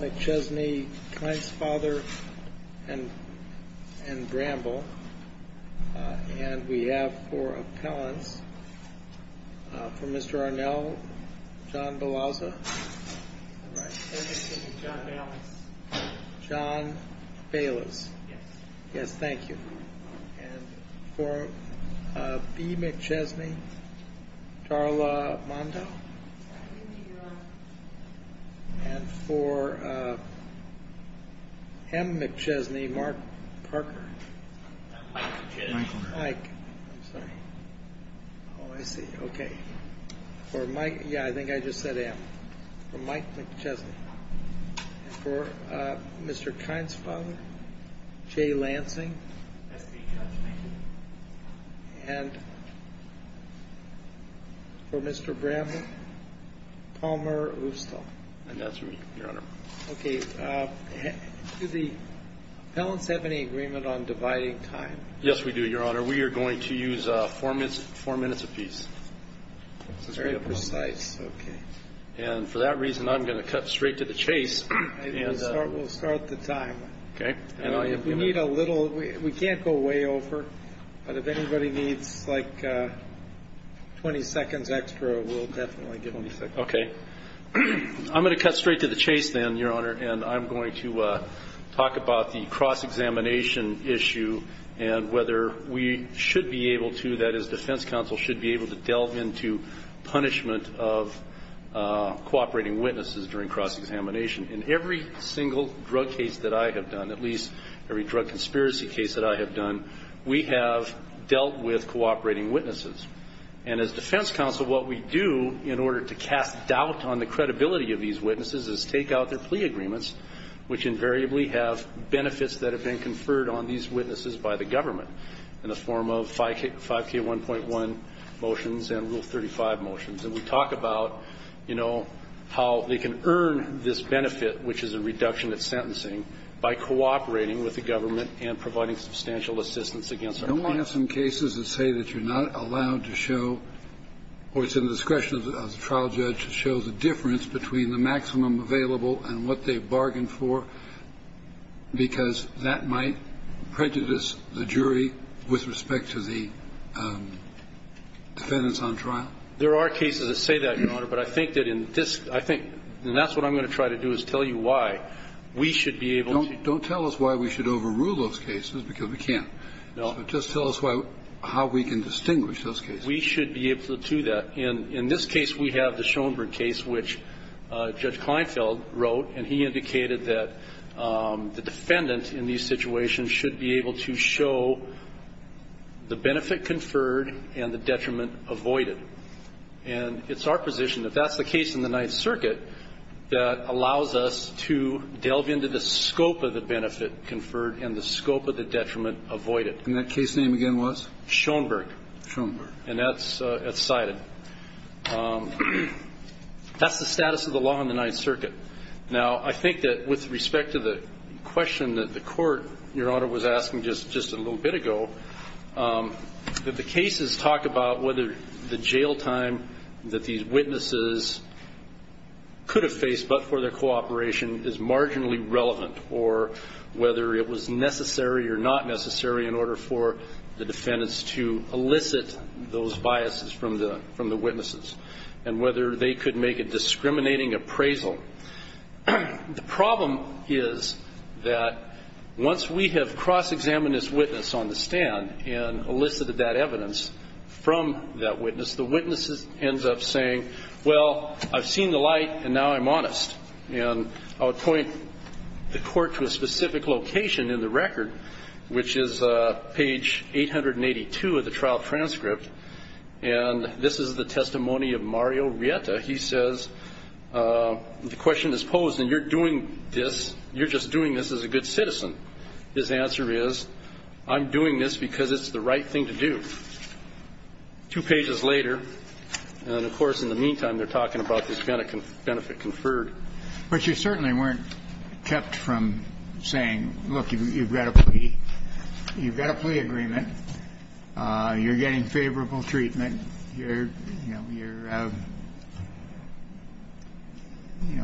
McChesney, Kline's father, and Bramble. And we have for appellants, for Mr. Arnell, John Baylis. Yes, thank you. And for B. McChesney, Darla Mondo. And for M. McChesney, Mark Parker. Mike, I'm sorry. Oh, I see. Okay. For Mike, yeah, I think I just said M. For Mike McChesney. And for Mr. Kline's father, J. Lansing. And for Mr. Bramble, Palmer Ustal. And that's me, Your Honor. Okay. Do the appellants have any agreement on dividing time? Yes, we do, Your Honor. We are going to use four minutes apiece. Very precise. Okay. And for that reason, I'm going to cut straight to the chase. We'll start the time. Okay. If we need a little, we can't go way over, but if anybody needs like 20 seconds extra, we'll definitely give them 20 seconds. Okay. I'm going to cut straight to the chase then, Your Honor, and I'm going to talk about the cross-examination issue and whether we should be able to, that is, defense counsel should be able to delve into punishment of cooperating witnesses during cross-examination. In every single drug case that I have done, at least every drug case that I have done, I have found that the best way to test doubt on the credibility of these witnesses is take out their plea agreements, which invariably have benefits that have been conferred on these witnesses by the government in the form of 5K1.1 motions and Rule 35 motions. And we talk about, you know, how they can earn this benefit, which is a reduction in sentencing, by cooperating with the government and providing substantial assistance against our clients. Don't we have some cases that say that you're not allowed to show or it's in the discretion of the trial judge to show the difference between the maximum available and what they bargained for because that might prejudice the jury with respect to the defendants on trial? There are cases that say that, Your Honor, but I think that in this, I think, and that's what I'm going to try to do is tell you why we should be able to. Don't tell us why we should overrule those cases because we can't. No. Just tell us how we can distinguish those cases. We should be able to do that. In this case, we have the Schoenberg case, which Judge Kleinfeld wrote, and he indicated that the defendant in these situations should be able to show the benefit conferred and the detriment avoided. And it's our position, if that's the case in the Ninth Circuit, that allows us to delve into the scope of the benefit conferred and the scope of the detriment avoided. And that case name again was? Schoenberg. Schoenberg. And that's cited. That's the status of the law in the Ninth Circuit. Now, I think that with respect to the question that the court, Your Honor, was asking just a little bit ago, that the cases talk about whether the jail time that these witnesses could have faced but for their cooperation is marginally relevant or whether it was necessary or not necessary in order for the defendants to elicit those biases from the witnesses and whether they could make a discriminating appraisal. The problem is that once we have cross-examined this witness on the stand and elicited that evidence from that witness, the witness ends up saying, well, I've seen the light, and now I'm honest. And I'll point the court to a specific location in the record, which is page 882 of the trial transcript, and this is the testimony of Mario Rieta. He says, the question is posed, and you're doing this, you're just doing this as a good citizen. His answer is, I'm doing this because it's the right thing to do. Two pages later, and, of course, in the meantime, they're talking about this benefit conferred. But you certainly weren't kept from saying, look, you've got a plea. You've got a plea agreement. You're getting favorable treatment. You're, you know,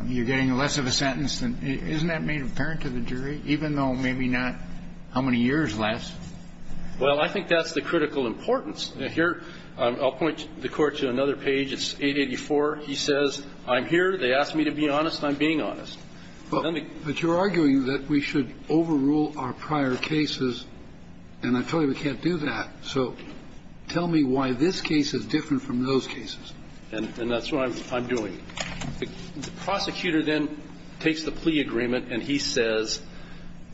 you're getting less of a sentence. Isn't that made apparent to the jury, even though maybe not how many years lasts? Well, I think that's the critical importance. Here, I'll point the court to another page. It's 884. He says, I'm here. They asked me to be honest. I'm being honest. But you're arguing that we should overrule our prior cases, and I tell you we can't do that. So tell me why this case is different from those cases. And that's what I'm doing. The prosecutor then takes the plea agreement, and he says,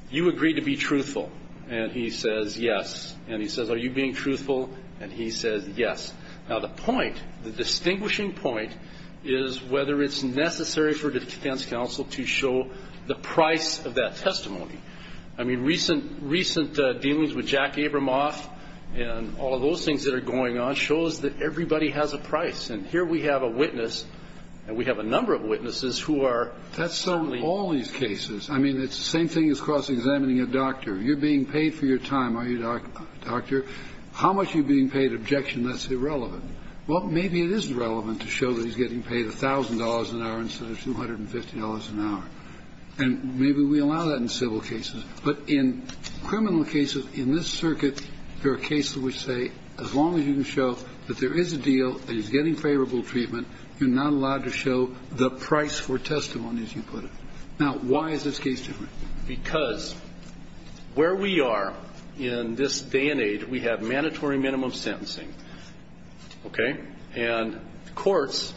you agreed to be truthful. And he says, yes. And he says, are you being truthful? And he says, yes. Now, the point, the distinguishing point is whether it's necessary for defense counsel to show the price of that testimony. I mean, recent dealings with Jack Abramoff and all of those things that are going on shows that everybody has a price. And here we have a witness, and we have a number of witnesses who are testifying. That's so in all these cases. I mean, it's the same thing as cross-examining a doctor. You're being paid for your time, are you, doctor? How much are you being paid? Objection. That's irrelevant. Well, maybe it is relevant to show that he's getting paid $1,000 an hour instead of $250 an hour. And maybe we allow that in civil cases. But in criminal cases, in this circuit, there are cases which say as long as you can show that there is a deal, that he's getting favorable treatment, you're not allowed to show the price for testimony, as you put it. Now, why is this case different? Because where we are in this day and age, we have mandatory minimum sentencing. Okay? And courts,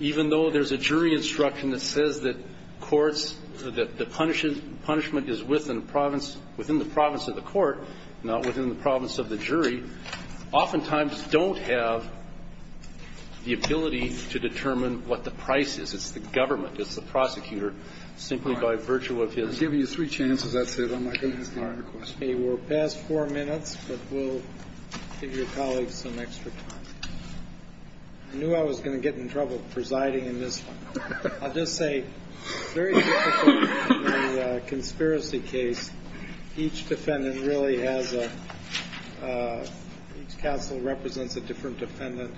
even though there's a jury instruction that says that courts, that the punishment is within the province of the court, not within the province of the jury, oftentimes don't have the ability to determine what the price is. It's the government. It's the prosecutor. And so, in this case, it's the court that is doing the best job of determining what the price is, and that's what we're trying to do here, simply by virtue of his All right. I'm giving you three chances. That's it. I'm not going to ask the other questions. Okay. We're past four minutes, but we'll give your colleagues some extra time. I knew I was going to get in trouble presiding in this one. I'll just say it's very difficult in a conspiracy case. Each defendant really has a — each counsel represents a different defendant.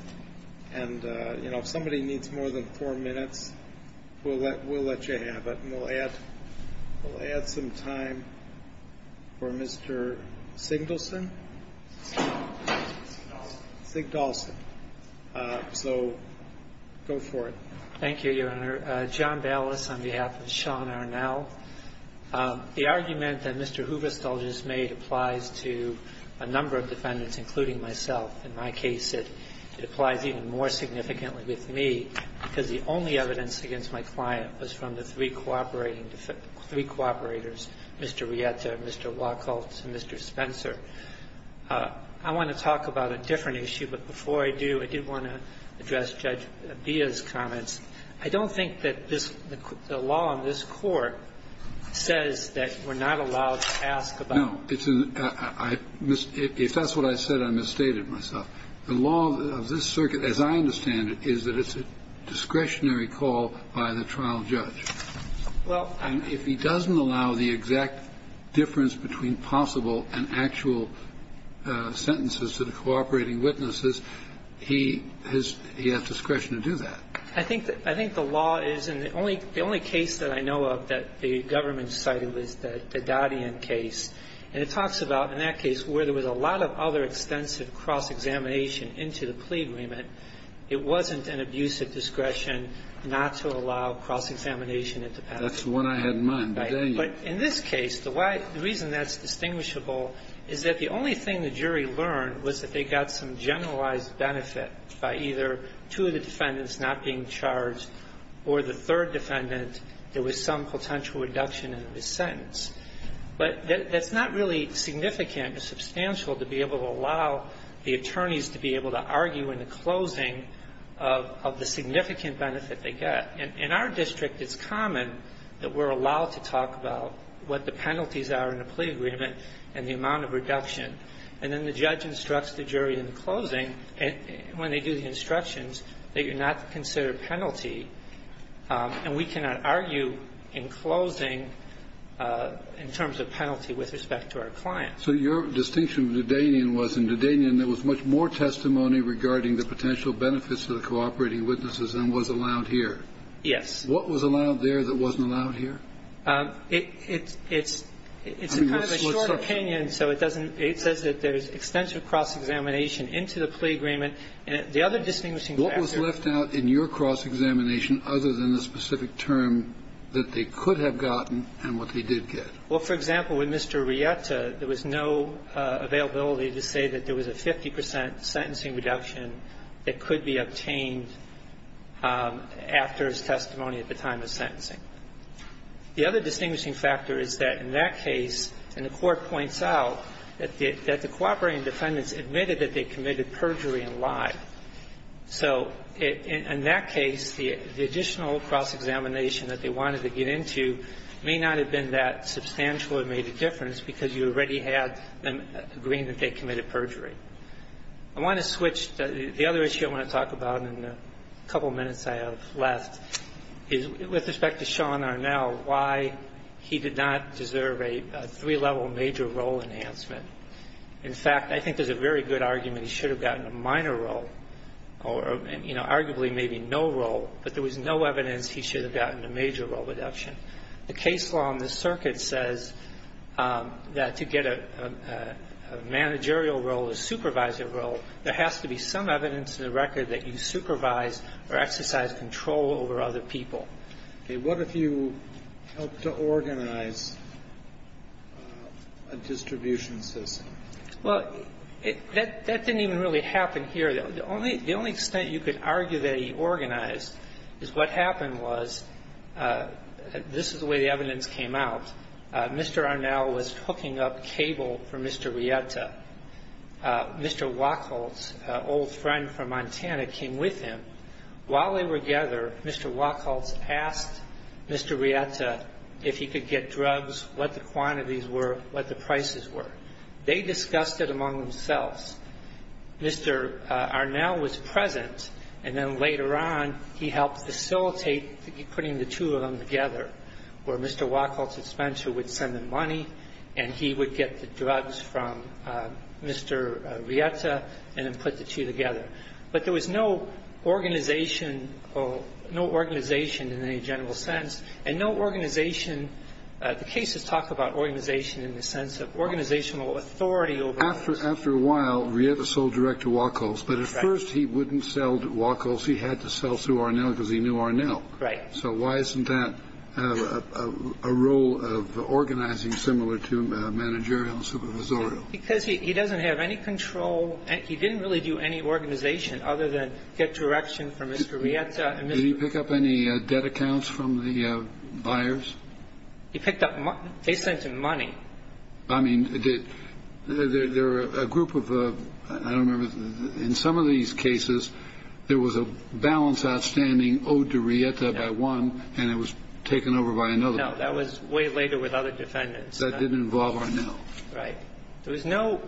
And, you know, if somebody needs more than four minutes, we'll let you have it, and we'll add some time for Mr. Sigdalson. Sigdalson. Sigdalson. So, go for it. Thank you, Your Honor. John Ballas on behalf of Sean Arnell. The argument that Mr. Hooverstall just made applies to a number of defendants, including myself. In my case, it applies even more significantly with me, because the only evidence against my client was from the three cooperating — three cooperators, Mr. Rieta, Mr. Wacholtz, and Mr. Spencer. I want to talk about a different issue, but before I do, I did want to address Judge Abia's comments. I don't think that this — the law on this Court says that we're not allowed to ask about it. No. If that's what I said, I misstated myself. The law of this circuit, as I understand it, is that it's a discretionary call by the trial judge. Well, I'm — And if he doesn't allow the exact difference between possible and actual sentences to the cooperating witnesses, he has discretion to do that. I think — I think the law is — and the only case that I know of that the government cited was the Daddian case, and it talks about, in that case, where there was a lot of other extensive cross-examination into the plea agreement, it wasn't an abuse of discretion not to allow cross-examination at the patent. That's the one I had in mind, Daddian. Right. But in this case, the reason that's distinguishable is that the only thing the jury learned was that they got some generalized benefit by either two of the defendants not being charged or the third defendant, there was some potential reduction in the sentence. But that's not really significant or substantial to be able to allow the attorneys to be able to argue in the closing of the significant benefit they get. In our district, it's common that we're allowed to talk about what the penalties are in a plea agreement and the amount of reduction. And then the judge instructs the jury in the closing, when they do the instructions, that you're not to consider a penalty. And we cannot argue in closing in terms of penalty with respect to our client. So your distinction with Daddian was, in Daddian, there was much more testimony regarding the potential benefits to the cooperating witnesses than was allowed here. Yes. What was allowed there that wasn't allowed here? It's a kind of a short opinion, so it doesn't – it says that there's extensive cross-examination into the plea agreement. The other distinguishing factor – What was left out in your cross-examination other than the specific term that they could have gotten and what they did get? Well, for example, with Mr. Rieta, there was no availability to say that there was a 50 percent sentencing reduction that could be obtained after his testimony at the time of sentencing. The other distinguishing factor is that in that case, and the Court points out, that the cooperating defendants admitted that they committed perjury and lied. So in that case, the additional cross-examination that they wanted to get into may not have been that substantial and made a difference because you already had them agreeing that they committed perjury. I want to switch. The other issue I want to talk about in the couple minutes I have left is with respect to Sean Arnell, why he did not deserve a three-level major role enhancement. In fact, I think there's a very good argument he should have gotten a minor role or, you know, arguably maybe no role, but there was no evidence he should have gotten a major role reduction. The case law in this circuit says that to get a managerial role, a supervisor role, there has to be some evidence in the record that you supervise or exercise control over other people. Okay. What if you helped to organize a distribution system? Well, that didn't even really happen here. The only extent you could argue that he organized is what happened was this is the way the evidence came out. Mr. Arnell was hooking up cable for Mr. Rieta. Mr. Wachholz, an old friend from Montana, came with him. While they were together, Mr. Wachholz asked Mr. Rieta if he could get drugs, what the quantities were, what the prices were. They discussed it among themselves. Mr. Arnell was present, and then later on he helped facilitate putting the two of them together where Mr. Wachholz had spent, who would send the money, and he would get the drugs from Mr. Rieta and then put the two together. But there was no organization, no organization in any general sense, and no organization. The cases talk about organization in the sense of organizational authority. After a while, Rieta sold direct to Wachholz, but at first he wouldn't sell to Wachholz. He had to sell through Arnell because he knew Arnell. Right. So why isn't that a role of organizing similar to managerial and supervisorial? Because he doesn't have any control. He didn't really do any organization other than get direction from Mr. Rieta and Mr. Wachholz. Did he pick up any debt accounts from the buyers? He picked up money. They sent him money. I mean, there were a group of, I don't remember, in some of these cases, there was a balance outstanding owed to Rieta by one, and it was taken over by another. No. That was way later with other defendants. That didn't involve Arnell. Right. There was no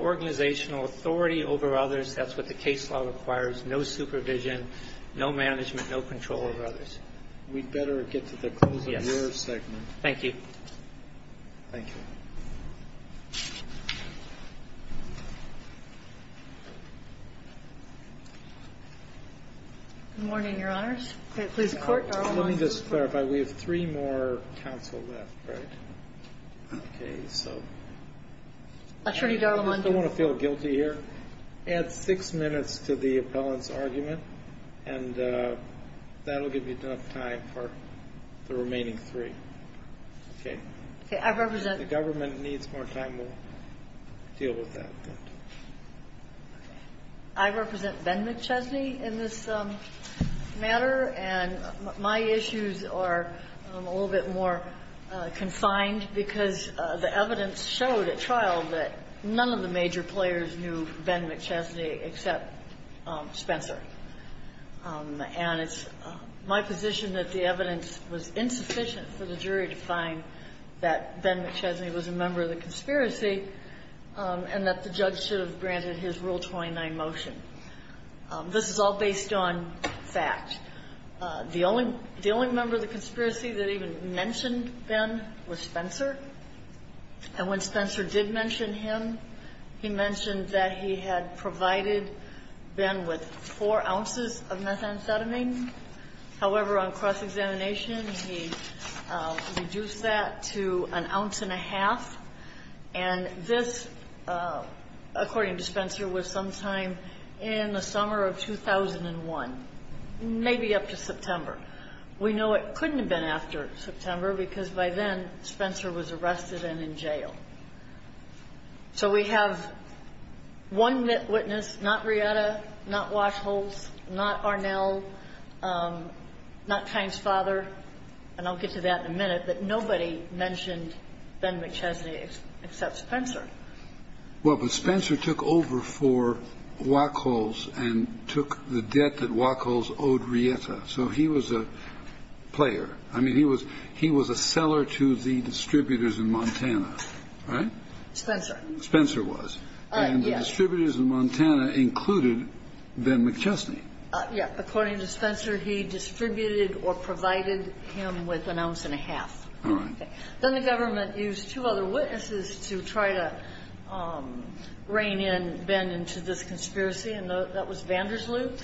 organizational authority over others. That's what the case law requires, no supervision, no management, no control over others. We'd better get to the close of your segment. Yes. Thank you. Thank you. Good morning, Your Honors. Please report. Let me just clarify. We have three more counsel left. Right. So. Attorney Darla Mondo. I don't want to feel guilty here. Add six minutes to the appellant's argument, and that will give you enough time for the remaining three. Okay. I represent. If the government needs more time, we'll deal with that. Okay. I represent Ben McChesney in this matter, and my issues are a little bit more confined because the evidence showed at trial that none of the major players knew Ben McChesney except Spencer. And it's my position that the evidence was insufficient for the jury to find that Ben McChesney was a member of the conspiracy and that the judge should have granted his Rule 29 motion. This is all based on fact. The only member of the conspiracy that even mentioned Ben was Spencer, and when Spencer did mention him, he mentioned that he had provided Ben with four ounces of methamphetamine. However, on cross-examination, he reduced that to an ounce and a half, and this, according to Spencer, was sometime in the summer of 2001, maybe up to September. We know it couldn't have been after September because by then Spencer was arrested and in jail. So we have one witness, not Rieta, not Wachholz, not Arnell, not Kine's father, and I'll get to that in a minute, but nobody mentioned Ben McChesney except Spencer. Well, but Spencer took over for Wachholz and took the debt that Wachholz owed Rieta, so he was a player. I mean, he was a seller to the distributors in Montana, right? Spencer. Spencer was. Yes. And the distributors in Montana included Ben McChesney. Yes. According to Spencer, he distributed or provided him with an ounce and a half. All right. Then the government used two other witnesses to try to rein in Ben into this conspiracy, and that was Vandersloop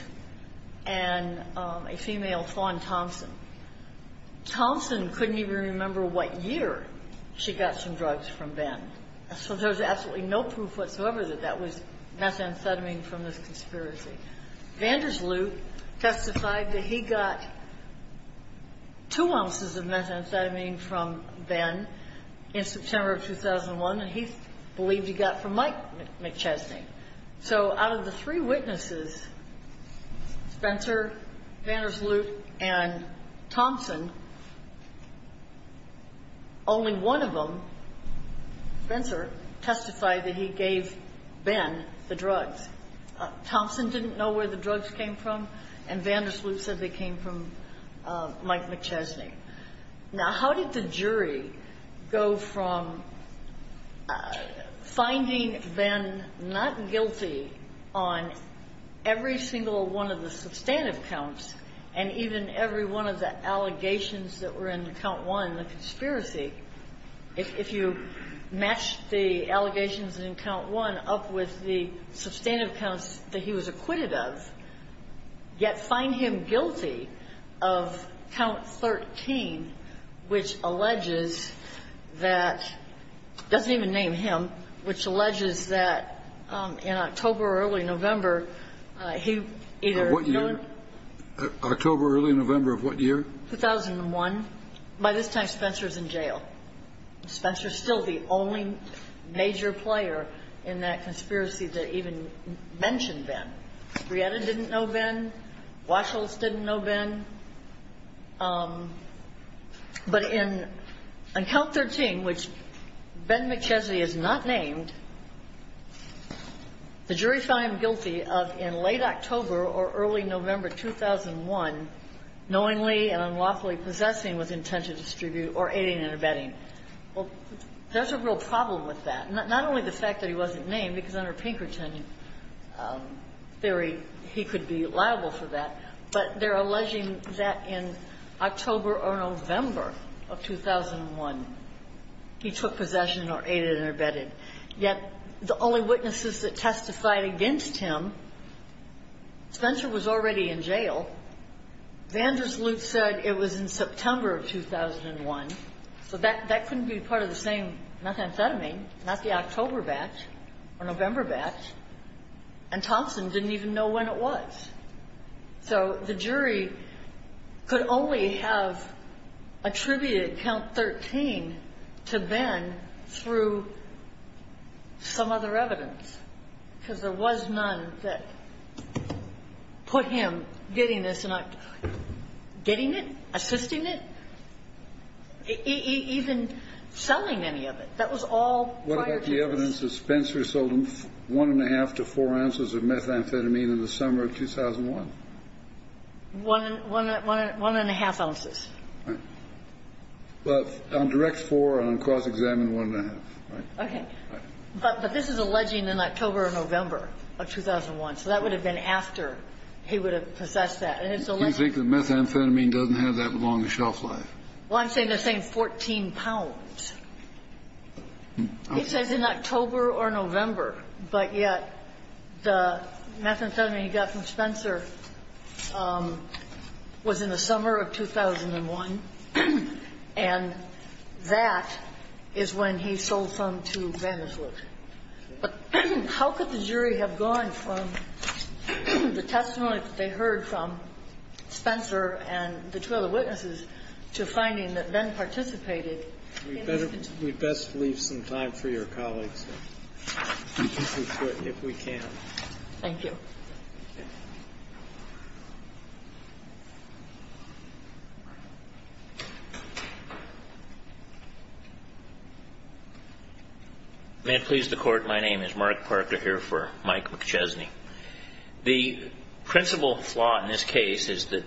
and a female, Fawn Thompson. Thompson couldn't even remember what year she got some drugs from Ben, so there was absolutely no proof whatsoever that that was methamphetamine from this conspiracy. Vandersloop testified that he got two ounces of methamphetamine from Ben in September of 2001, and he believed he got from Mike McChesney. So out of the three witnesses, Spencer, Vandersloop, and Thompson, only one of them, Spencer, testified that he gave Ben the drugs. Thompson didn't know where the drugs came from, and Vandersloop said they came from Mike McChesney. Now, how did the jury go from finding Ben not guilty on every single one of the substantive counts and even every one of the allegations that were in count one, the conspiracy? If you match the allegations in count one up with the substantive counts that he was acquitted of, yet find him guilty of count 13, which alleges that – doesn't even name him – which alleges that in October or early November, he either – What year? October, early November of what year? 2001. By this time, Spencer is in jail. Spencer is still the only major player in that conspiracy that even mentioned Ben. Brietta didn't know Ben. Washels didn't know Ben. But in – on count 13, which Ben McChesney is not named, the jury found him guilty of in late October or early November 2001, knowingly and unlawfully possessing with intent to distribute or aiding and abetting. Well, there's a real problem with that. Not only the fact that he wasn't named, because under Pinkerton theory, he could be liable for that, but they're alleging that in October or November of 2001, he took possession or aided and abetted. Yet the only witnesses that testified against him, Spencer was already in jail. Vandersloot said it was in September of 2001. So that couldn't be part of the same methamphetamine, not the October batch or November batch. And Thompson didn't even know when it was. So the jury could only have attributed count 13 to Ben through some other evidence, because there was none that put him getting this in October. Getting it? Assisting it? Even selling any of it. That was all prior to this. What about the evidence that Spencer sold him one-and-a-half to four ounces of methamphetamine in the summer of 2001? One-and-a-half ounces. Right. But on direct for and on cause examined, one-and-a-half, right? Okay. Right. But this is alleging in October or November of 2001. So that would have been after he would have possessed that. And it's a legend. You think the methamphetamine doesn't have that long a shelf life? Well, I'm saying they're saying 14 pounds. It says in October or November. But yet the methamphetamine he got from Spencer was in the summer of 2001. And that is when he sold some to van der Voort. But how could the jury have gone from the testimony that they heard from Spencer and the two other witnesses to finding that Ben participated? We'd best leave some time for your colleagues, if we can. Thank you. May it please the Court, my name is Mark Parker here for Mike McChesney. The principal flaw in this case is that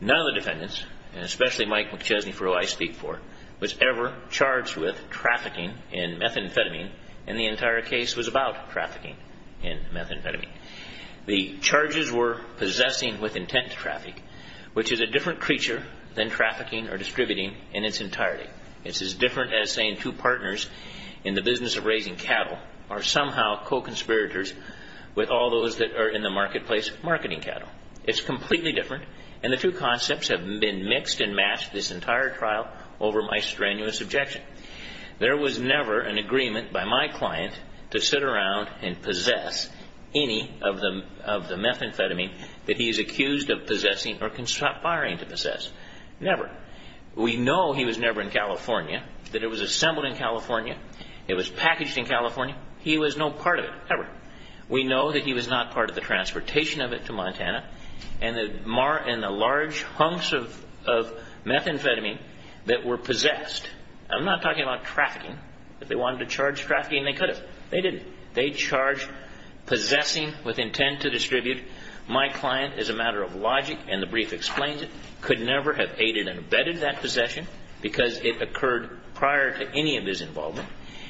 none of the defendants, and especially Mike McChesney for who I speak for, was ever charged with trafficking in methamphetamine, and the entire case was about trafficking in methamphetamine. The charges were possessing with intent to traffic, which is a different creature than trafficking or distributing in its entirety. It's as different as saying two partners in the business of raising cattle are somehow co-conspirators with all those that are in the marketplace marketing cattle. It's completely different, and the two concepts have been mixed and matched this entire trial over my strenuous objection. There was never an agreement by my client to sit around and possess any of the methamphetamine that he is accused of possessing or conspiring to possess. Never. We know he was never in California, that it was assembled in California, it was packaged in California. He was no part of it, ever. We know that he was not part of the transportation of it to Montana, and the large hunks of methamphetamine that were possessed I'm not talking about trafficking. If they wanted to charge trafficking, they could have. They didn't. They charged possessing with intent to distribute. My client, as a matter of logic, and the brief explains it, could never have aided and abetted that possession because it occurred prior to any of his involvement.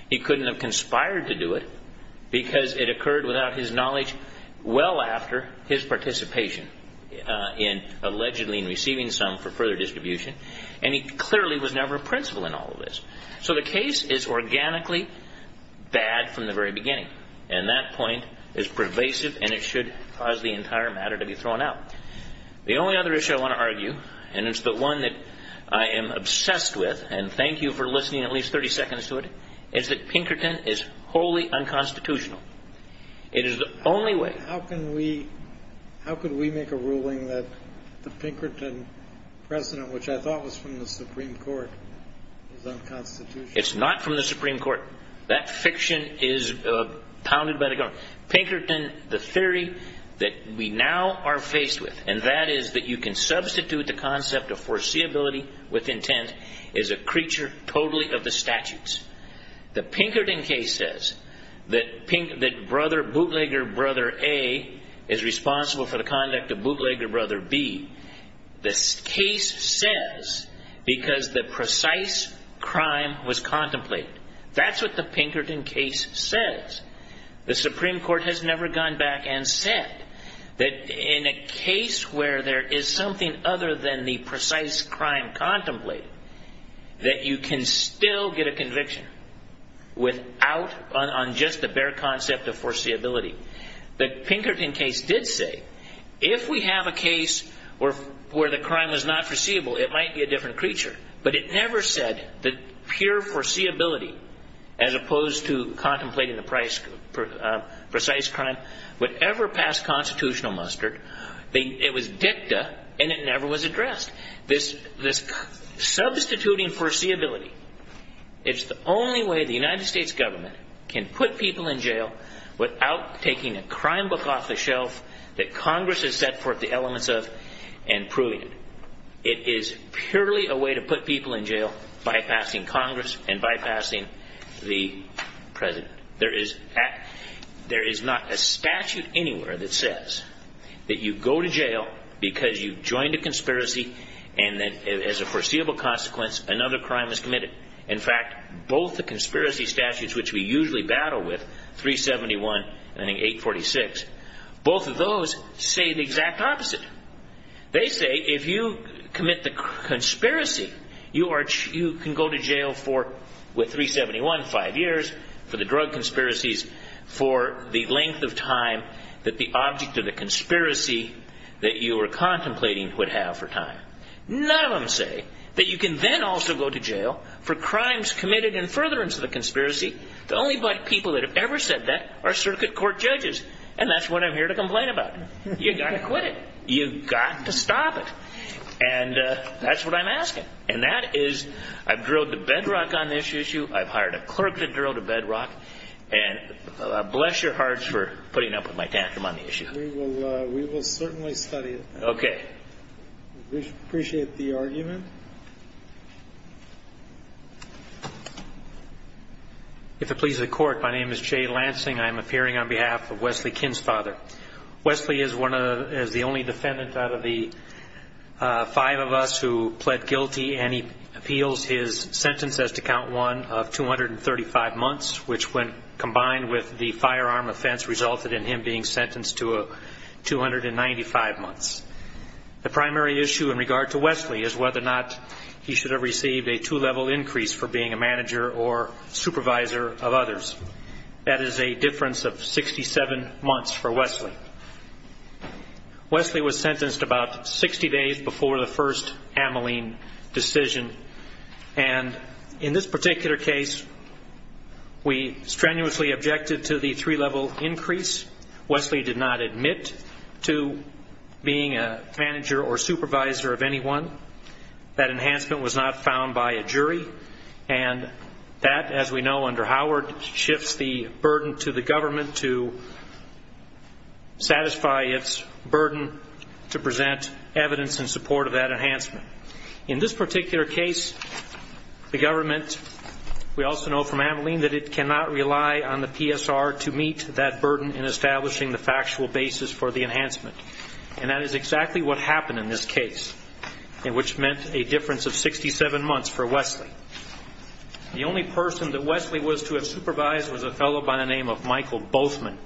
He couldn't have conspired to do it because it occurred without his knowledge well after his participation in allegedly receiving some for further distribution, and he clearly was never a principal in all of this. So the case is organically bad from the very beginning, and that point is pervasive, and it should cause the entire matter to be thrown out. The only other issue I want to argue, and it's the one that I am obsessed with, and thank you for listening at least 30 seconds to it, is that Pinkerton is wholly unconstitutional. It is the only way. How can we make a ruling that the Pinkerton precedent, which I thought was from the Supreme Court, is unconstitutional? It's not from the Supreme Court. That fiction is pounded by the government. Pinkerton, the theory that we now are faced with, and that is that you can substitute the concept of foreseeability with intent, is a creature totally of the statutes. The Pinkerton case says that bootlegger brother A is responsible for the conduct of bootlegger brother B. This case says because the precise crime was contemplated. That's what the Pinkerton case says. The Supreme Court has never gone back and said that in a case where there is something other than the precise crime contemplated, that you can still get a conviction on just the bare concept of foreseeability. The Pinkerton case did say if we have a case where the crime was not foreseeable, it might be a different creature, but it never said that pure foreseeability, as opposed to contemplating the precise crime, would ever pass constitutional muster. It was dicta, and it never was addressed. This substituting foreseeability, it's the only way the United States government can put people in jail without taking a crime book off the shelf that Congress has set forth the elements of and proving it. It is purely a way to put people in jail, bypassing Congress and bypassing the President. There is not a statute anywhere that says that you go to jail because you've joined a conspiracy, and then as a foreseeable consequence, another crime is committed. In fact, both the conspiracy statutes which we usually battle with, 371 and 846, both of those say the exact opposite. They say if you commit the conspiracy, you can go to jail for, with 371, five years, for the drug conspiracies, for the length of time that the object of the conspiracy that you were contemplating would have for time. None of them say that you can then also go to jail for crimes committed in furtherance of the conspiracy. The only people that have ever said that are circuit court judges, and that's what I'm here to complain about. You've got to quit it. You've got to stop it. And that's what I'm asking, and that is I've drilled the bedrock on this issue. I've hired a clerk to drill the bedrock, and bless your hearts for putting up with my tantrum on the issue. We will certainly study it. Okay. We appreciate the argument. If it pleases the Court, my name is Jay Lansing. I am appearing on behalf of Wesley Kinn's father. Wesley is the only defendant out of the five of us who pled guilty, and he appeals his sentence as to count one of 235 months, which when combined with the firearm offense resulted in him being sentenced to 295 months. The primary issue in regard to Wesley is whether or not he should have received a two-level increase for being a manager or supervisor of others. That is a difference of 67 months for Wesley. Wesley was sentenced about 60 days before the first Ameline decision, and in this particular case, we strenuously objected to the three-level increase. Wesley did not admit to being a manager or supervisor of anyone. That enhancement was not found by a jury, and that, as we know under Howard, shifts the burden to the government to satisfy its burden to present evidence in support of that enhancement. In this particular case, the government, we also know from Ameline, that it cannot rely on the PSR to meet that burden in establishing the factual basis for the enhancement, and that is exactly what happened in this case, which meant a difference of 67 months for Wesley. The only person that Wesley was to have supervised was a fellow by the name of Michael Boathman,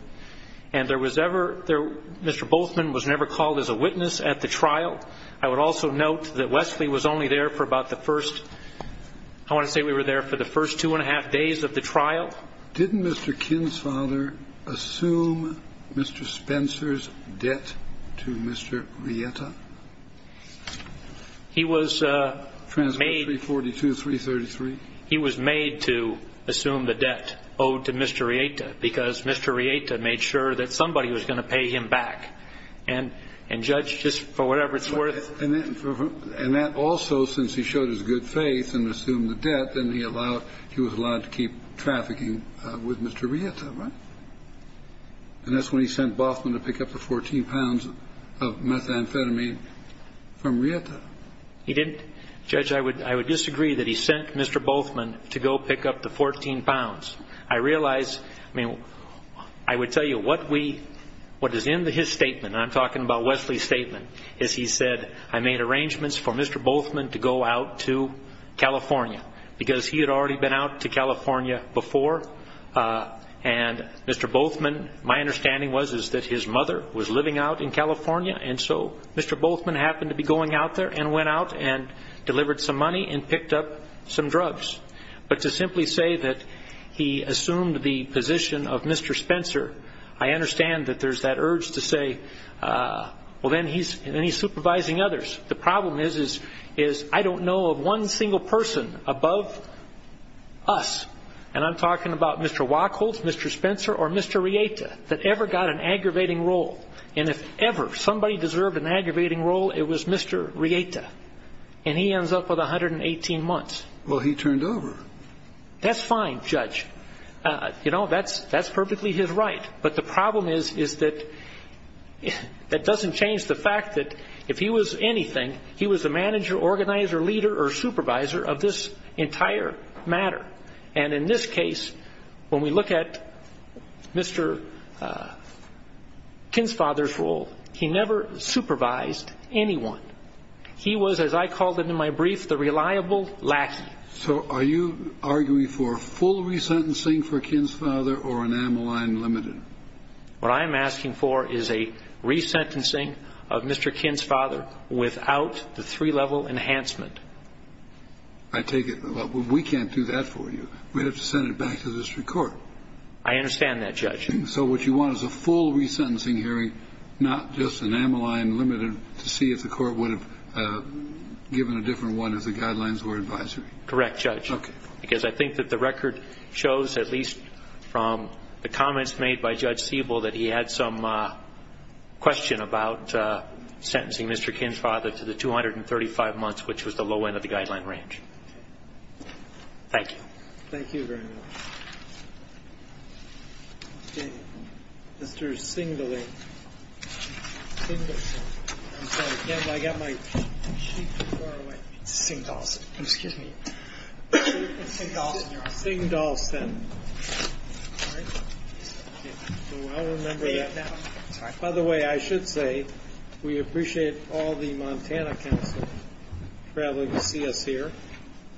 and Mr. Boathman was never called as a witness at the trial. I would also note that Wesley was only there for about the first, I want to say we were there for the first two-and-a-half days of the trial. Didn't Mr. Kinn's father assume Mr. Spencer's debt to Mr. Rieta? He was made to assume the debt owed to Mr. Rieta, because Mr. Rieta made sure that somebody was going to pay him back, and, Judge, just for whatever it's worth. And that also, since he showed his good faith and assumed the debt, then he was allowed to keep trafficking with Mr. Rieta, right? And that's when he sent Boathman to pick up the 14 pounds of methamphetamine from Rieta. He didn't. Judge, I would disagree that he sent Mr. Boathman to go pick up the 14 pounds. I realize, I mean, I would tell you what is in his statement, and I'm talking about Wesley's statement, is he said, I made arrangements for Mr. Boathman to go out to California, because he had already been out to California before, and Mr. Boathman, my understanding was, is that his mother was living out in California, and so Mr. Boathman happened to be going out there and went out and delivered some money and picked up some drugs. But to simply say that he assumed the position of Mr. Spencer, I understand that there's that urge to say, well, then he's supervising others. The problem is, is I don't know of one single person above us, and I'm talking about Mr. Wachholz, Mr. Spencer, or Mr. Rieta, that ever got an aggravating role. And if ever somebody deserved an aggravating role, it was Mr. Rieta. And he ends up with 118 months. Well, he turned over. That's fine, Judge. You know, that's perfectly his right. But the problem is, is that that doesn't change the fact that if he was anything, he was the manager, organizer, leader, or supervisor of this entire matter. And in this case, when we look at Mr. Kinsfather's role, he never supervised anyone. He was, as I called it in my brief, the reliable lackey. So are you arguing for full resentencing for Kinsfather or an amyline limited? What I'm asking for is a resentencing of Mr. Kinsfather without the three-level enhancement. I take it we can't do that for you. We'd have to send it back to the district court. I understand that, Judge. So what you want is a full resentencing hearing, not just an amyline limited, to see if the court would have given a different one if the guidelines were advisory. Correct, Judge. Because I think that the record shows, at least from the comments made by Judge Siebel, that he had some question about sentencing Mr. Kinsfather to the 235 months, which was the low end of the guideline range. Thank you. Thank you very much. Okay. Mr. Singdolson. I'm sorry, Ken, but I've got my sheet too far away. Singdolson. Excuse me. Singdolson, your honor. Singdolson. All right. So I'll remember that. By the way, I should say we appreciate all the Montana Council traveling to see us here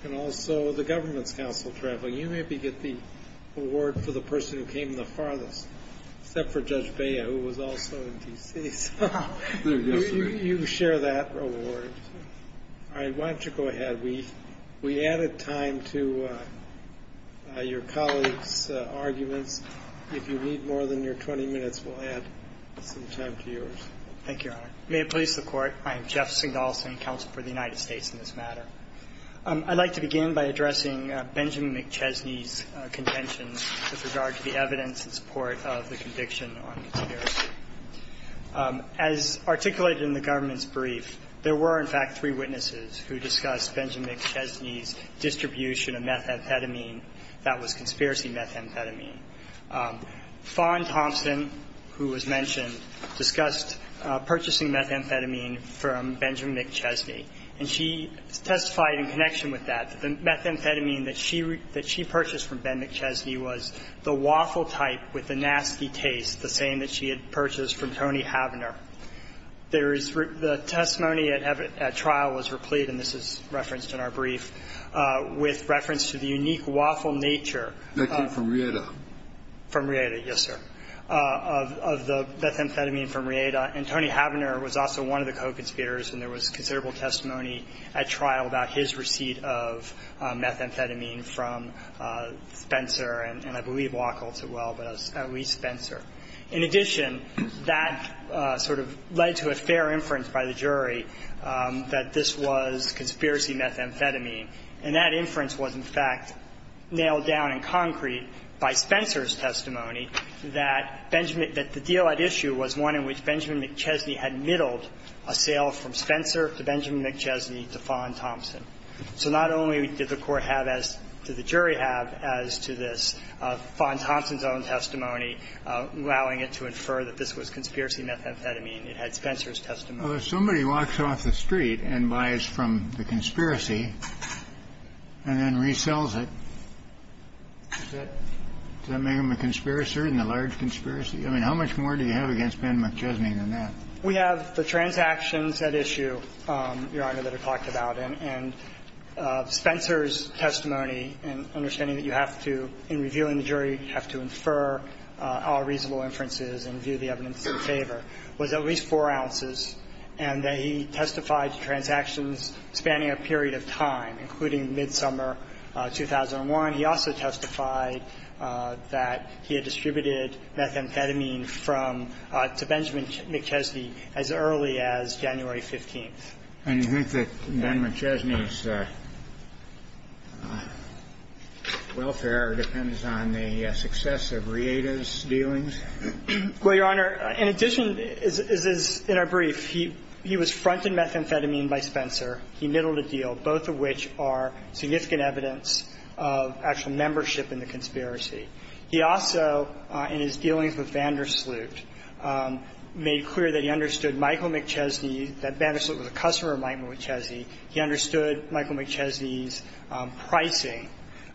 and also the Government's Council traveling. You maybe get the award for the person who came the farthest, except for Judge Bea, who was also in D.C. So you share that award. All right. Why don't you go ahead. We added time to your colleagues' arguments. If you need more than your 20 minutes, we'll add some time to yours. Thank you, Your Honor. May it please the Court, I am Jeff Singdolson, Counsel for the United States in this matter. I'd like to begin by addressing Benjamin McChesney's contentions with regard to the evidence in support of the conviction on conspiracy. As articulated in the Government's brief, there were, in fact, three witnesses who discussed Benjamin McChesney's distribution of methamphetamine that was conspiracy methamphetamine. Fawn Thompson, who was mentioned, discussed purchasing methamphetamine from Benjamin McChesney, and she testified in connection with that, that the methamphetamine that she purchased from Ben McChesney was the waffle type with the nasty taste, the same that she had purchased from Tony Havener. There is the testimony at trial was replete, and this is referenced in our brief, with reference to the unique waffle nature. That came from Rieta. From Rieta, yes, sir, of the methamphetamine from Rieta. And Tony Havener was also one of the co-conspirators, and there was considerable testimony at trial about his receipt of methamphetamine from Spencer, and I believe Wackel as well, but at least Spencer. In addition, that sort of led to a fair inference by the jury that this was conspiracy methamphetamine, and that inference was, in fact, nailed down in concrete by Spencer's testimony, that Benjamin McChesney had middled a sale from Spencer to Benjamin McChesney to Fawn Thompson. So not only did the court have as to the jury have as to this, Fawn Thompson's own testimony allowing it to infer that this was conspiracy methamphetamine. It had Spencer's testimony. Kennedy. Well, if somebody walks off the street and buys from the conspiracy and then resells it, does that make them a conspiracer in the large conspiracy? I mean, how much more do you have against Benjamin McChesney than that? We have the transactions at issue, Your Honor, that are talked about. And Spencer's testimony, and understanding that you have to, in reviewing the jury, have to infer all reasonable inferences and view the evidence in favor, was at least 4 ounces, and that he testified to transactions spanning a period of time, including midsummer 2001. He also testified that he had distributed methamphetamine from to Benjamin McChesney as early as January 15th. And you think that Ben McChesney's welfare depends on the success of Rieda's dealings? Well, Your Honor, in addition, as is in our brief, he was fronted methamphetamine by Spencer. He niddled a deal, both of which are significant evidence of actual membership in the conspiracy. He also, in his dealings with VanderSloot, made clear that he understood Michael McChesney, that VanderSloot was a customer of Mike McChesney. He understood Michael McChesney's pricing.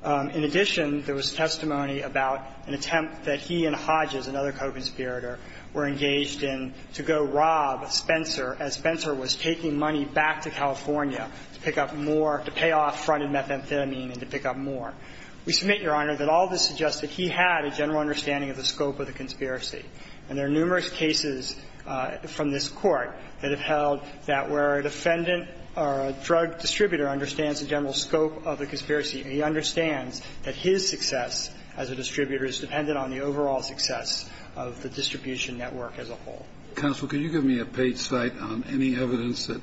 In addition, there was testimony about an attempt that he and Hodges, another co-conspirator, were engaged in to go rob Spencer as Spencer was taking money back to California to pick up more to pay off fronted methamphetamine and to pick up more. We submit, Your Honor, that all of this suggests that he had a general understanding of the scope of the conspiracy, and there are numerous cases from this Court that have held that where a defendant or a drug distributor understands the general scope of the conspiracy, he understands that his success as a distributor is dependent on the overall success of the distribution network as a whole. Kennedy. Counsel, could you give me a page cite on any evidence that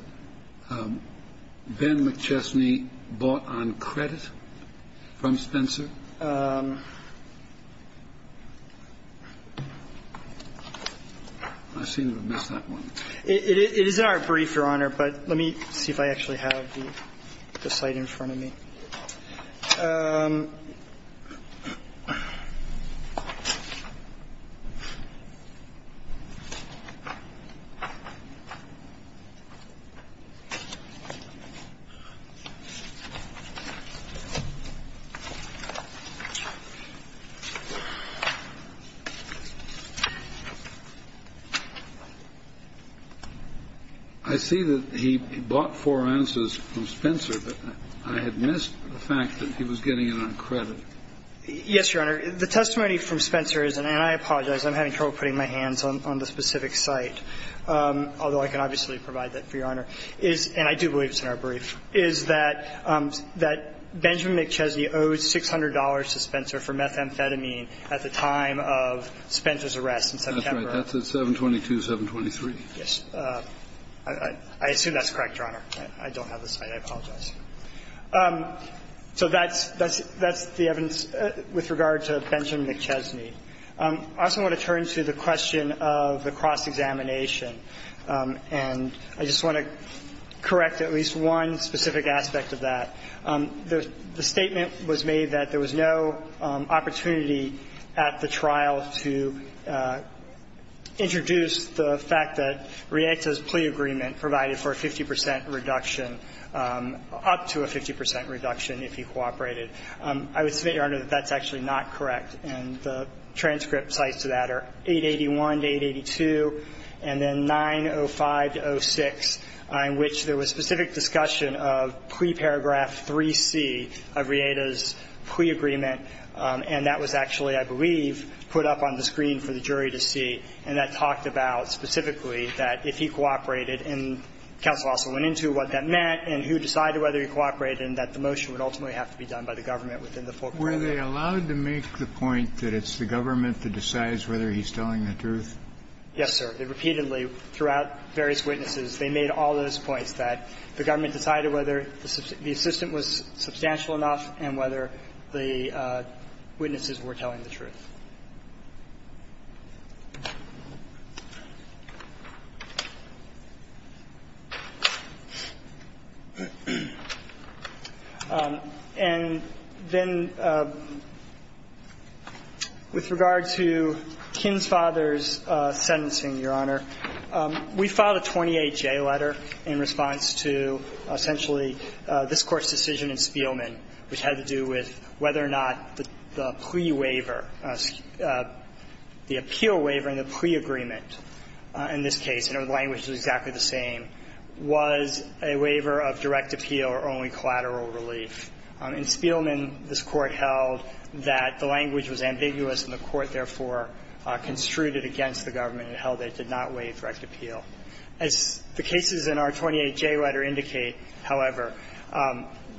Ben McChesney bought on credit from Spencer? I seem to have missed that one. It is in our brief, Your Honor, but let me see if I actually have the cite in front of me. I see that he bought four answers from Spencer. Yes, Your Honor. The testimony from Spencer is, and I apologize, I'm having trouble putting my hands on the specific cite, although I can obviously provide that for Your Honor, is, and I do believe it's in our brief, is that Benjamin McChesney owed $600 to Spencer for methamphetamine at the time of Spencer's arrest in September. That's right. That's at 722-723. Yes. I assume that's correct, Your Honor. I don't have the cite. I apologize. So that's the evidence with regard to Benjamin McChesney. I also want to turn to the question of the cross-examination, and I just want to correct at least one specific aspect of that. The statement was made that there was no opportunity at the trial to introduce the fact that Rieta's plea agreement provided for a 50 percent reduction, up to a 50 percent reduction if he cooperated. I would submit, Your Honor, that that's actually not correct, and the transcript cites to that are 881 to 882, and then 905 to 06, in which there was specific discussion of pre-paragraph 3C of Rieta's plea agreement, and that was actually, I believe, put up on the screen for the jury to see, and that talked about specifically that if he cooperated, and counsel also went into what that meant, and who decided whether he cooperated, and that the motion would ultimately have to be done by the government within the full paragraph. Were they allowed to make the point that it's the government that decides whether he's telling the truth? Yes, sir. Repeatedly, throughout various witnesses, they made all those points, that the government decided whether the assistant was substantial enough and whether the witnesses were telling the truth. And then with regard to Kinn's father's sentencing, Your Honor, we filed a 28-J letter in response to essentially this Court's decision in Spielman, which had to do with whether or not the plea waiver, the appeal waiver in the plea agreement in this case, and the language is exactly the same, was a waiver of direct appeal or only collateral relief. In Spielman, this Court held that the language was ambiguous, and the Court, therefore, construed it against the government and held that it did not waive direct appeal. As the cases in our 28-J letter indicate, however,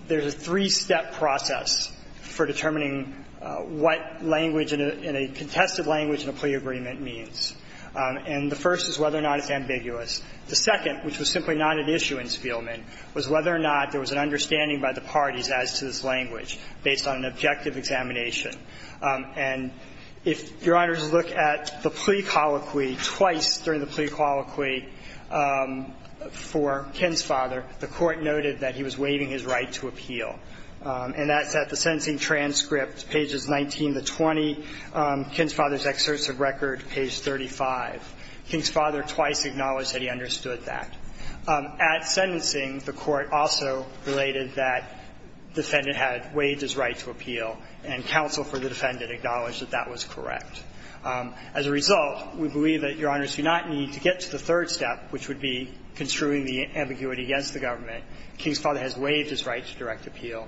there's a three-step process for determining what language in a contested language in a plea agreement means. And the first is whether or not it's ambiguous. The second, which was simply not at issue in Spielman, was whether or not there was an understanding by the parties as to this language based on an objective examination. And if Your Honor's look at the plea colloquy, twice during the plea colloquy for Kinn's father, the Court noted that he was waiving his right to appeal. And that's at the sentencing transcript, pages 19 to 20, Kinn's father's excerpts of record, page 35. Kinn's father twice acknowledged that he understood that. At sentencing, the Court also related that defendant had waived his right to appeal, and counsel for the defendant acknowledged that that was correct. As a result, we believe that Your Honors do not need to get to the third step, which would be construing the ambiguity against the government. Kinn's father has waived his right to direct appeal,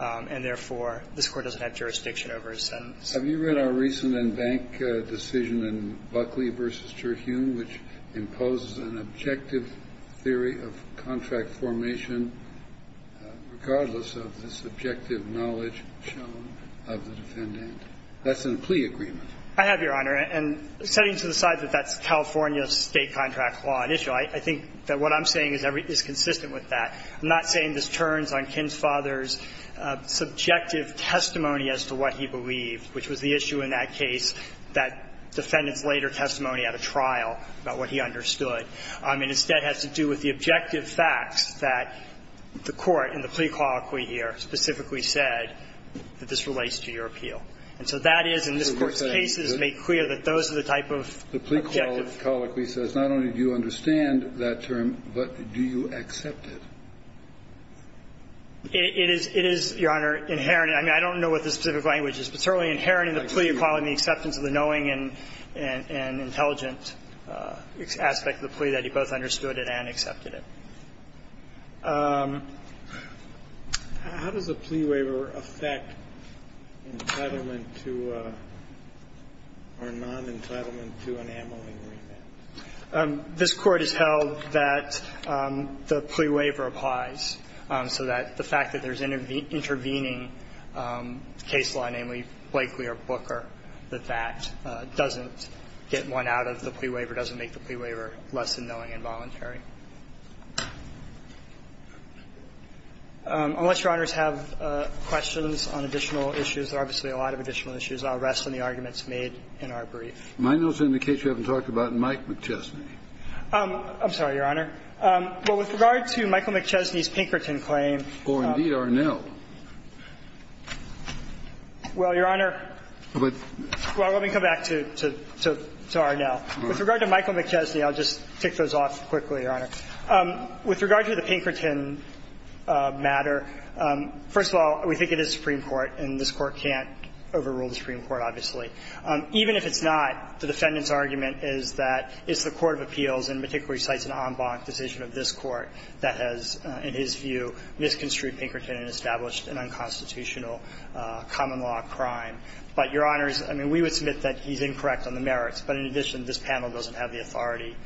and therefore, this Court doesn't have jurisdiction over his sentence. Kennedy. Have you read our recent in-bank decision in Buckley v. Terhune, which imposes an objective theory of contract formation, regardless of this objective knowledge shown of the defendant? That's in the plea agreement. I have, Your Honor. And setting to the side that that's California State contract law initially, I think that what I'm saying is consistent with that. I'm not saying this turns on Kinn's father's subjective testimony as to what he believed, which was the issue in that case, that defendant's later testimony at a trial about what he understood. It instead has to do with the objective facts that the Court in the plea colloquy here specifically said that this relates to your appeal. And so that is, in this Court's cases, made clear that those are the type of objectives. The plea colloquy says not only do you understand that term, but do you accept it? It is, Your Honor, inherent. I mean, I don't know what the specific language is, but certainly inherent in the plea colloquy, the acceptance of the knowing and intelligent aspect of the plea, that he both understood it and accepted it. How does a plea waiver affect entitlement to or non-entitlement to an amyling remand? This Court has held that the plea waiver applies, so that the fact that there's intervening case law, namely Blakeley or Booker, that that doesn't get one out of the way, doesn't make the plea waiver less than knowing and voluntary. Unless Your Honors have questions on additional issues, there are obviously a lot of additional issues. I'll rest on the arguments made in our brief. My notes indicate you haven't talked about Mike McChesney. I'm sorry, Your Honor. Well, with regard to Michael McChesney's Pinkerton claim. Or, indeed, Arnell. Well, Your Honor. Well, let me come back to Arnell. With regard to Michael McChesney, I'll just tick those off quickly, Your Honor. With regard to the Pinkerton matter, first of all, we think it is Supreme Court, and this Court can't overrule the Supreme Court, obviously. Even if it's not, the defendant's argument is that it's the court of appeals, and particularly cites an en banc decision of this Court, that has, in his view, misconstrued Pinkerton and established an unconstitutional common law crime. But, Your Honors, I mean, we would submit that he's incorrect on the merits. But, in addition, this panel doesn't have the authority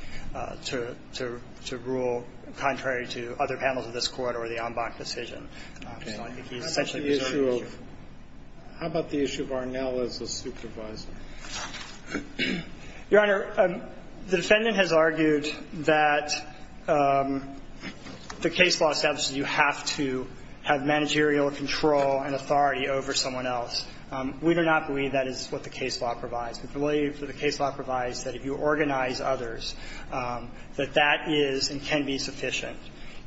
to rule contrary to other panels of this Court or the en banc decision. So I think he's essentially reserving the issue. Okay. How about the issue of Arnell as a supervisor? Your Honor, the defendant has argued that the case law establishes you have to have managerial control and authority over someone else. We do not believe that is what the case law provides. We believe that the case law provides that if you organize others, that that is and can be sufficient.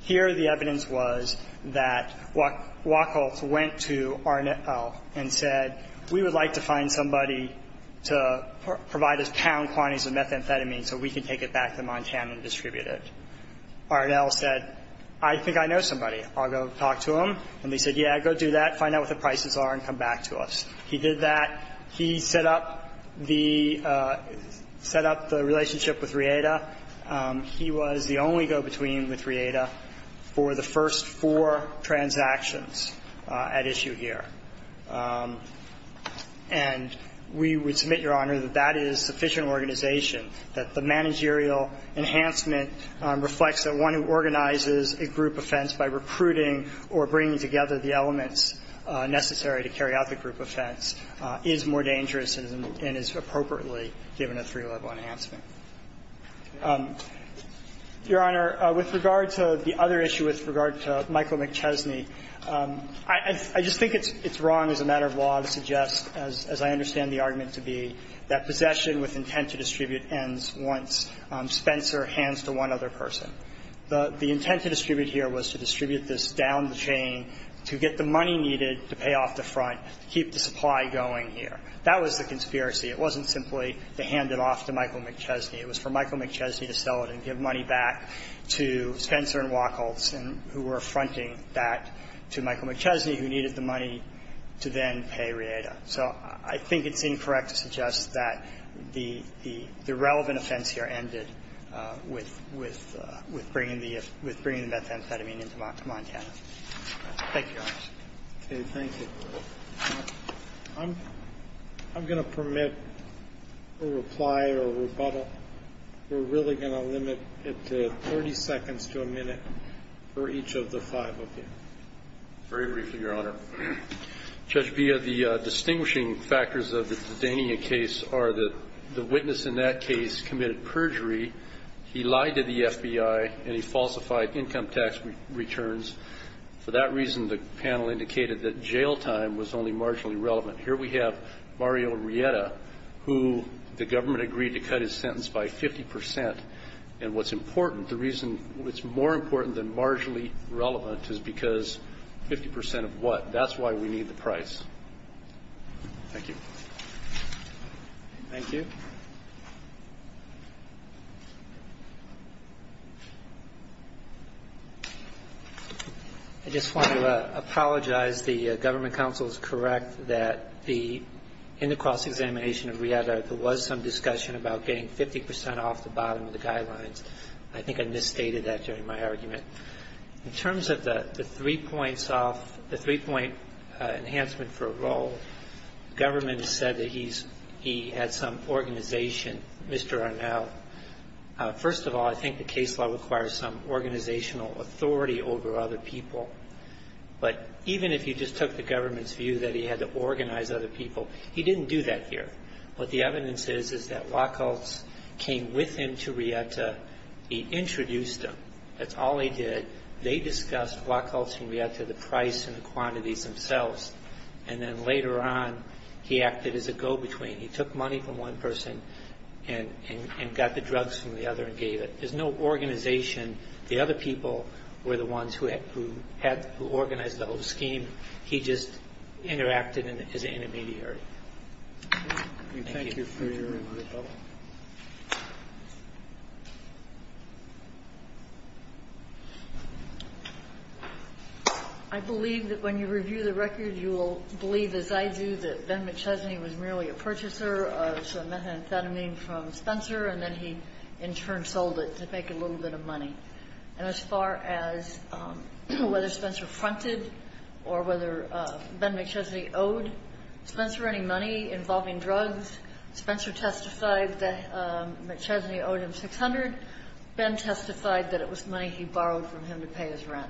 Here, the evidence was that Wachholz went to Arnell and said, we would like to find somebody to provide us pound quantities of methamphetamine so we can take it back to Montana and distribute it. Arnell said, I think I know somebody. I'll go talk to him. And they said, yeah, go do that, find out what the prices are, and come back to us. He did that. He set up the relationship with Rieda. He was the only go-between with Rieda for the first four transactions at issue here. And we would submit, Your Honor, that that is sufficient organization, that the managerial enhancement reflects that one who organizes a group offense by recruiting or bringing together the elements necessary to carry out the group offense is more dangerous and is appropriately given a three-level enhancement. Your Honor, with regard to the other issue, with regard to Michael McChesney, I just think it's wrong as a matter of law to suggest, as I understand the argument to be, that possession with intent to distribute ends once Spencer hands to one other person. The intent to distribute here was to distribute this down the chain to get the money needed to pay off the front, to keep the supply going here. That was the conspiracy. It wasn't simply to hand it off to Michael McChesney. It was for Michael McChesney to sell it and give money back to Spencer and Wachholz, and who were fronting that to Michael McChesney, who needed the money to then pay Rieda. So I think it's incorrect to suggest that the relevant offense here ended with Michael McChesney, with bringing the methamphetamine into Montana. Thank you, Your Honor. Okay. Thank you. I'm going to permit a reply or a rebuttal. We're really going to limit it to 30 seconds to a minute for each of the five of you. Very briefly, Your Honor. Judge Bia, the distinguishing factors of the Dania case are that the witness in that case committed perjury. He lied to the FBI, and he falsified income tax returns. For that reason, the panel indicated that jail time was only marginally relevant. Here we have Mario Rieda, who the government agreed to cut his sentence by 50 percent. And what's important, the reason it's more important than marginally relevant is because 50 percent of what? That's why we need the price. Thank you. Thank you. I just want to apologize. The government counsel is correct that in the cross-examination of Rieda, there was some discussion about getting 50 percent off the bottom of the guidelines. I think I misstated that during my argument. In terms of the three-point enhancement for a role, the government has said that he had some organization, Mr. Arnau. First of all, I think the case law requires some organizational authority over other people. But even if you just took the government's view that he had to organize other people, he didn't do that here. What the evidence is is that Wachholz came with him to Rieda. He introduced him. That's all he did. They discussed Wachholz and Rieda, the price and the quantities themselves. And then later on, he acted as a go-between. He took money from one person and got the drugs from the other and gave it. There's no organization. The other people were the ones who organized the whole scheme. He just interacted as an intermediary. Thank you. Thank you for your remarks. I believe that when you review the record, you will believe, as I do, that Ben McChesney was merely a purchaser of some methamphetamine from Spencer, and then he, in turn, sold it to make a little bit of money. And as far as whether Spencer fronted or whether Ben McChesney owed Spencer any money involving drugs, Spencer testified that McChesney owed him $600. Ben testified that it was money he borrowed from him to pay his rent.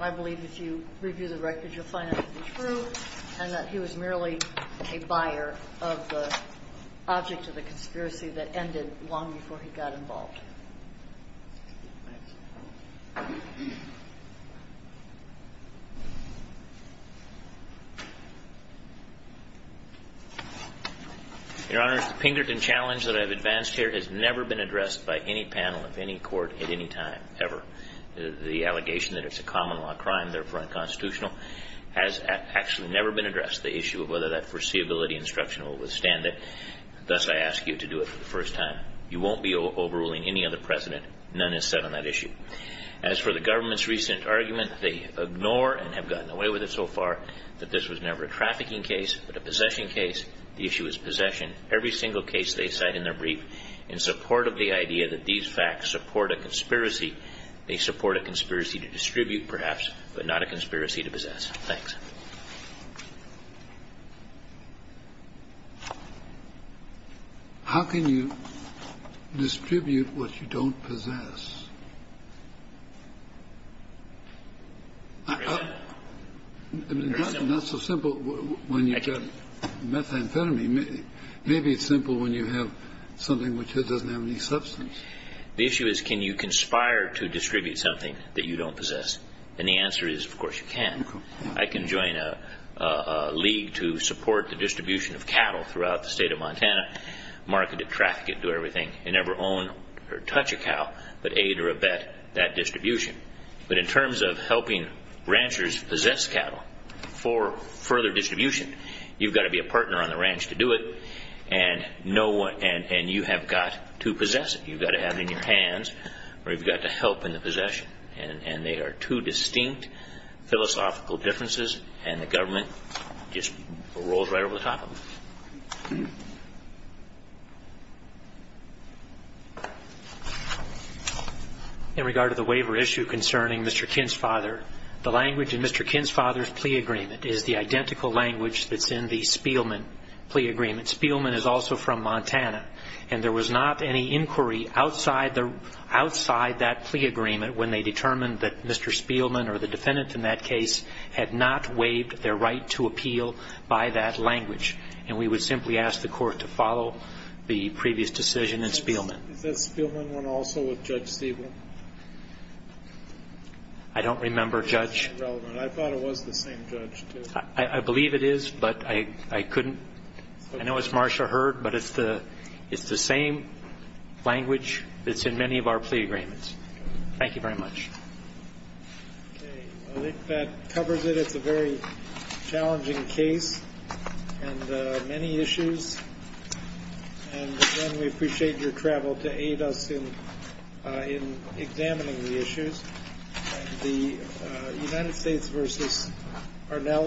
I believe if you review the record, you'll find that to be true, and that he was merely a buyer of the object of the conspiracy that ended long before he got involved. Your Honor, the Pinkerton challenge that I've advanced here has never been addressed by any panel of any court at any time, ever. The allegation that it's a common law crime, therefore unconstitutional, has actually never been addressed. The issue of whether that foreseeability instruction will withstand it, thus I ask you to do it for the first time. You won't be overruling any other precedent. None is set on that issue. As for the government's recent argument, they ignore and have gotten away with it so far that this was never a trafficking case but a possession case. The issue is possession. Every single case they cite in their brief in support of the idea that these facts support a conspiracy. They support a conspiracy to distribute, perhaps, but not a conspiracy to possess. Thanks. How can you distribute what you don't possess? I mean, it's not so simple when you get methamphetamine. Maybe it's simple when you have something which doesn't have any substance. The issue is can you conspire to distribute something that you don't possess? And the answer is, of course, you can. I can join a league to support the distribution of cattle throughout the state of Montana, market it, traffic it, do everything, and never own or touch a cow but aid or abet that distribution. But in terms of helping ranchers possess cattle for further distribution, you've got to be you've got to have it in your hands or you've got to help in the possession. And they are two distinct philosophical differences, and the government just rolls right over the top of them. In regard to the waiver issue concerning Mr. Kinn's father, the language in Mr. Kinn's father's plea agreement is the identical language that's in the Spielman plea agreement. Spielman is also from Montana, and there was not any inquiry outside that plea agreement when they determined that Mr. Spielman or the defendant in that case had not waived their right to appeal by that language. And we would simply ask the court to follow the previous decision in Spielman. Is that Spielman one also with Judge Stiebel? I don't remember, Judge. I thought it was the same judge, too. I believe it is, but I couldn't. I know it's Marsha Heard, but it's the same language that's in many of our plea agreements. Thank you very much. Okay. Well, I think that covers it. It's a very challenging case and many issues. And again, we appreciate your travel to aid us in examining the issues. The United States v. Arnell.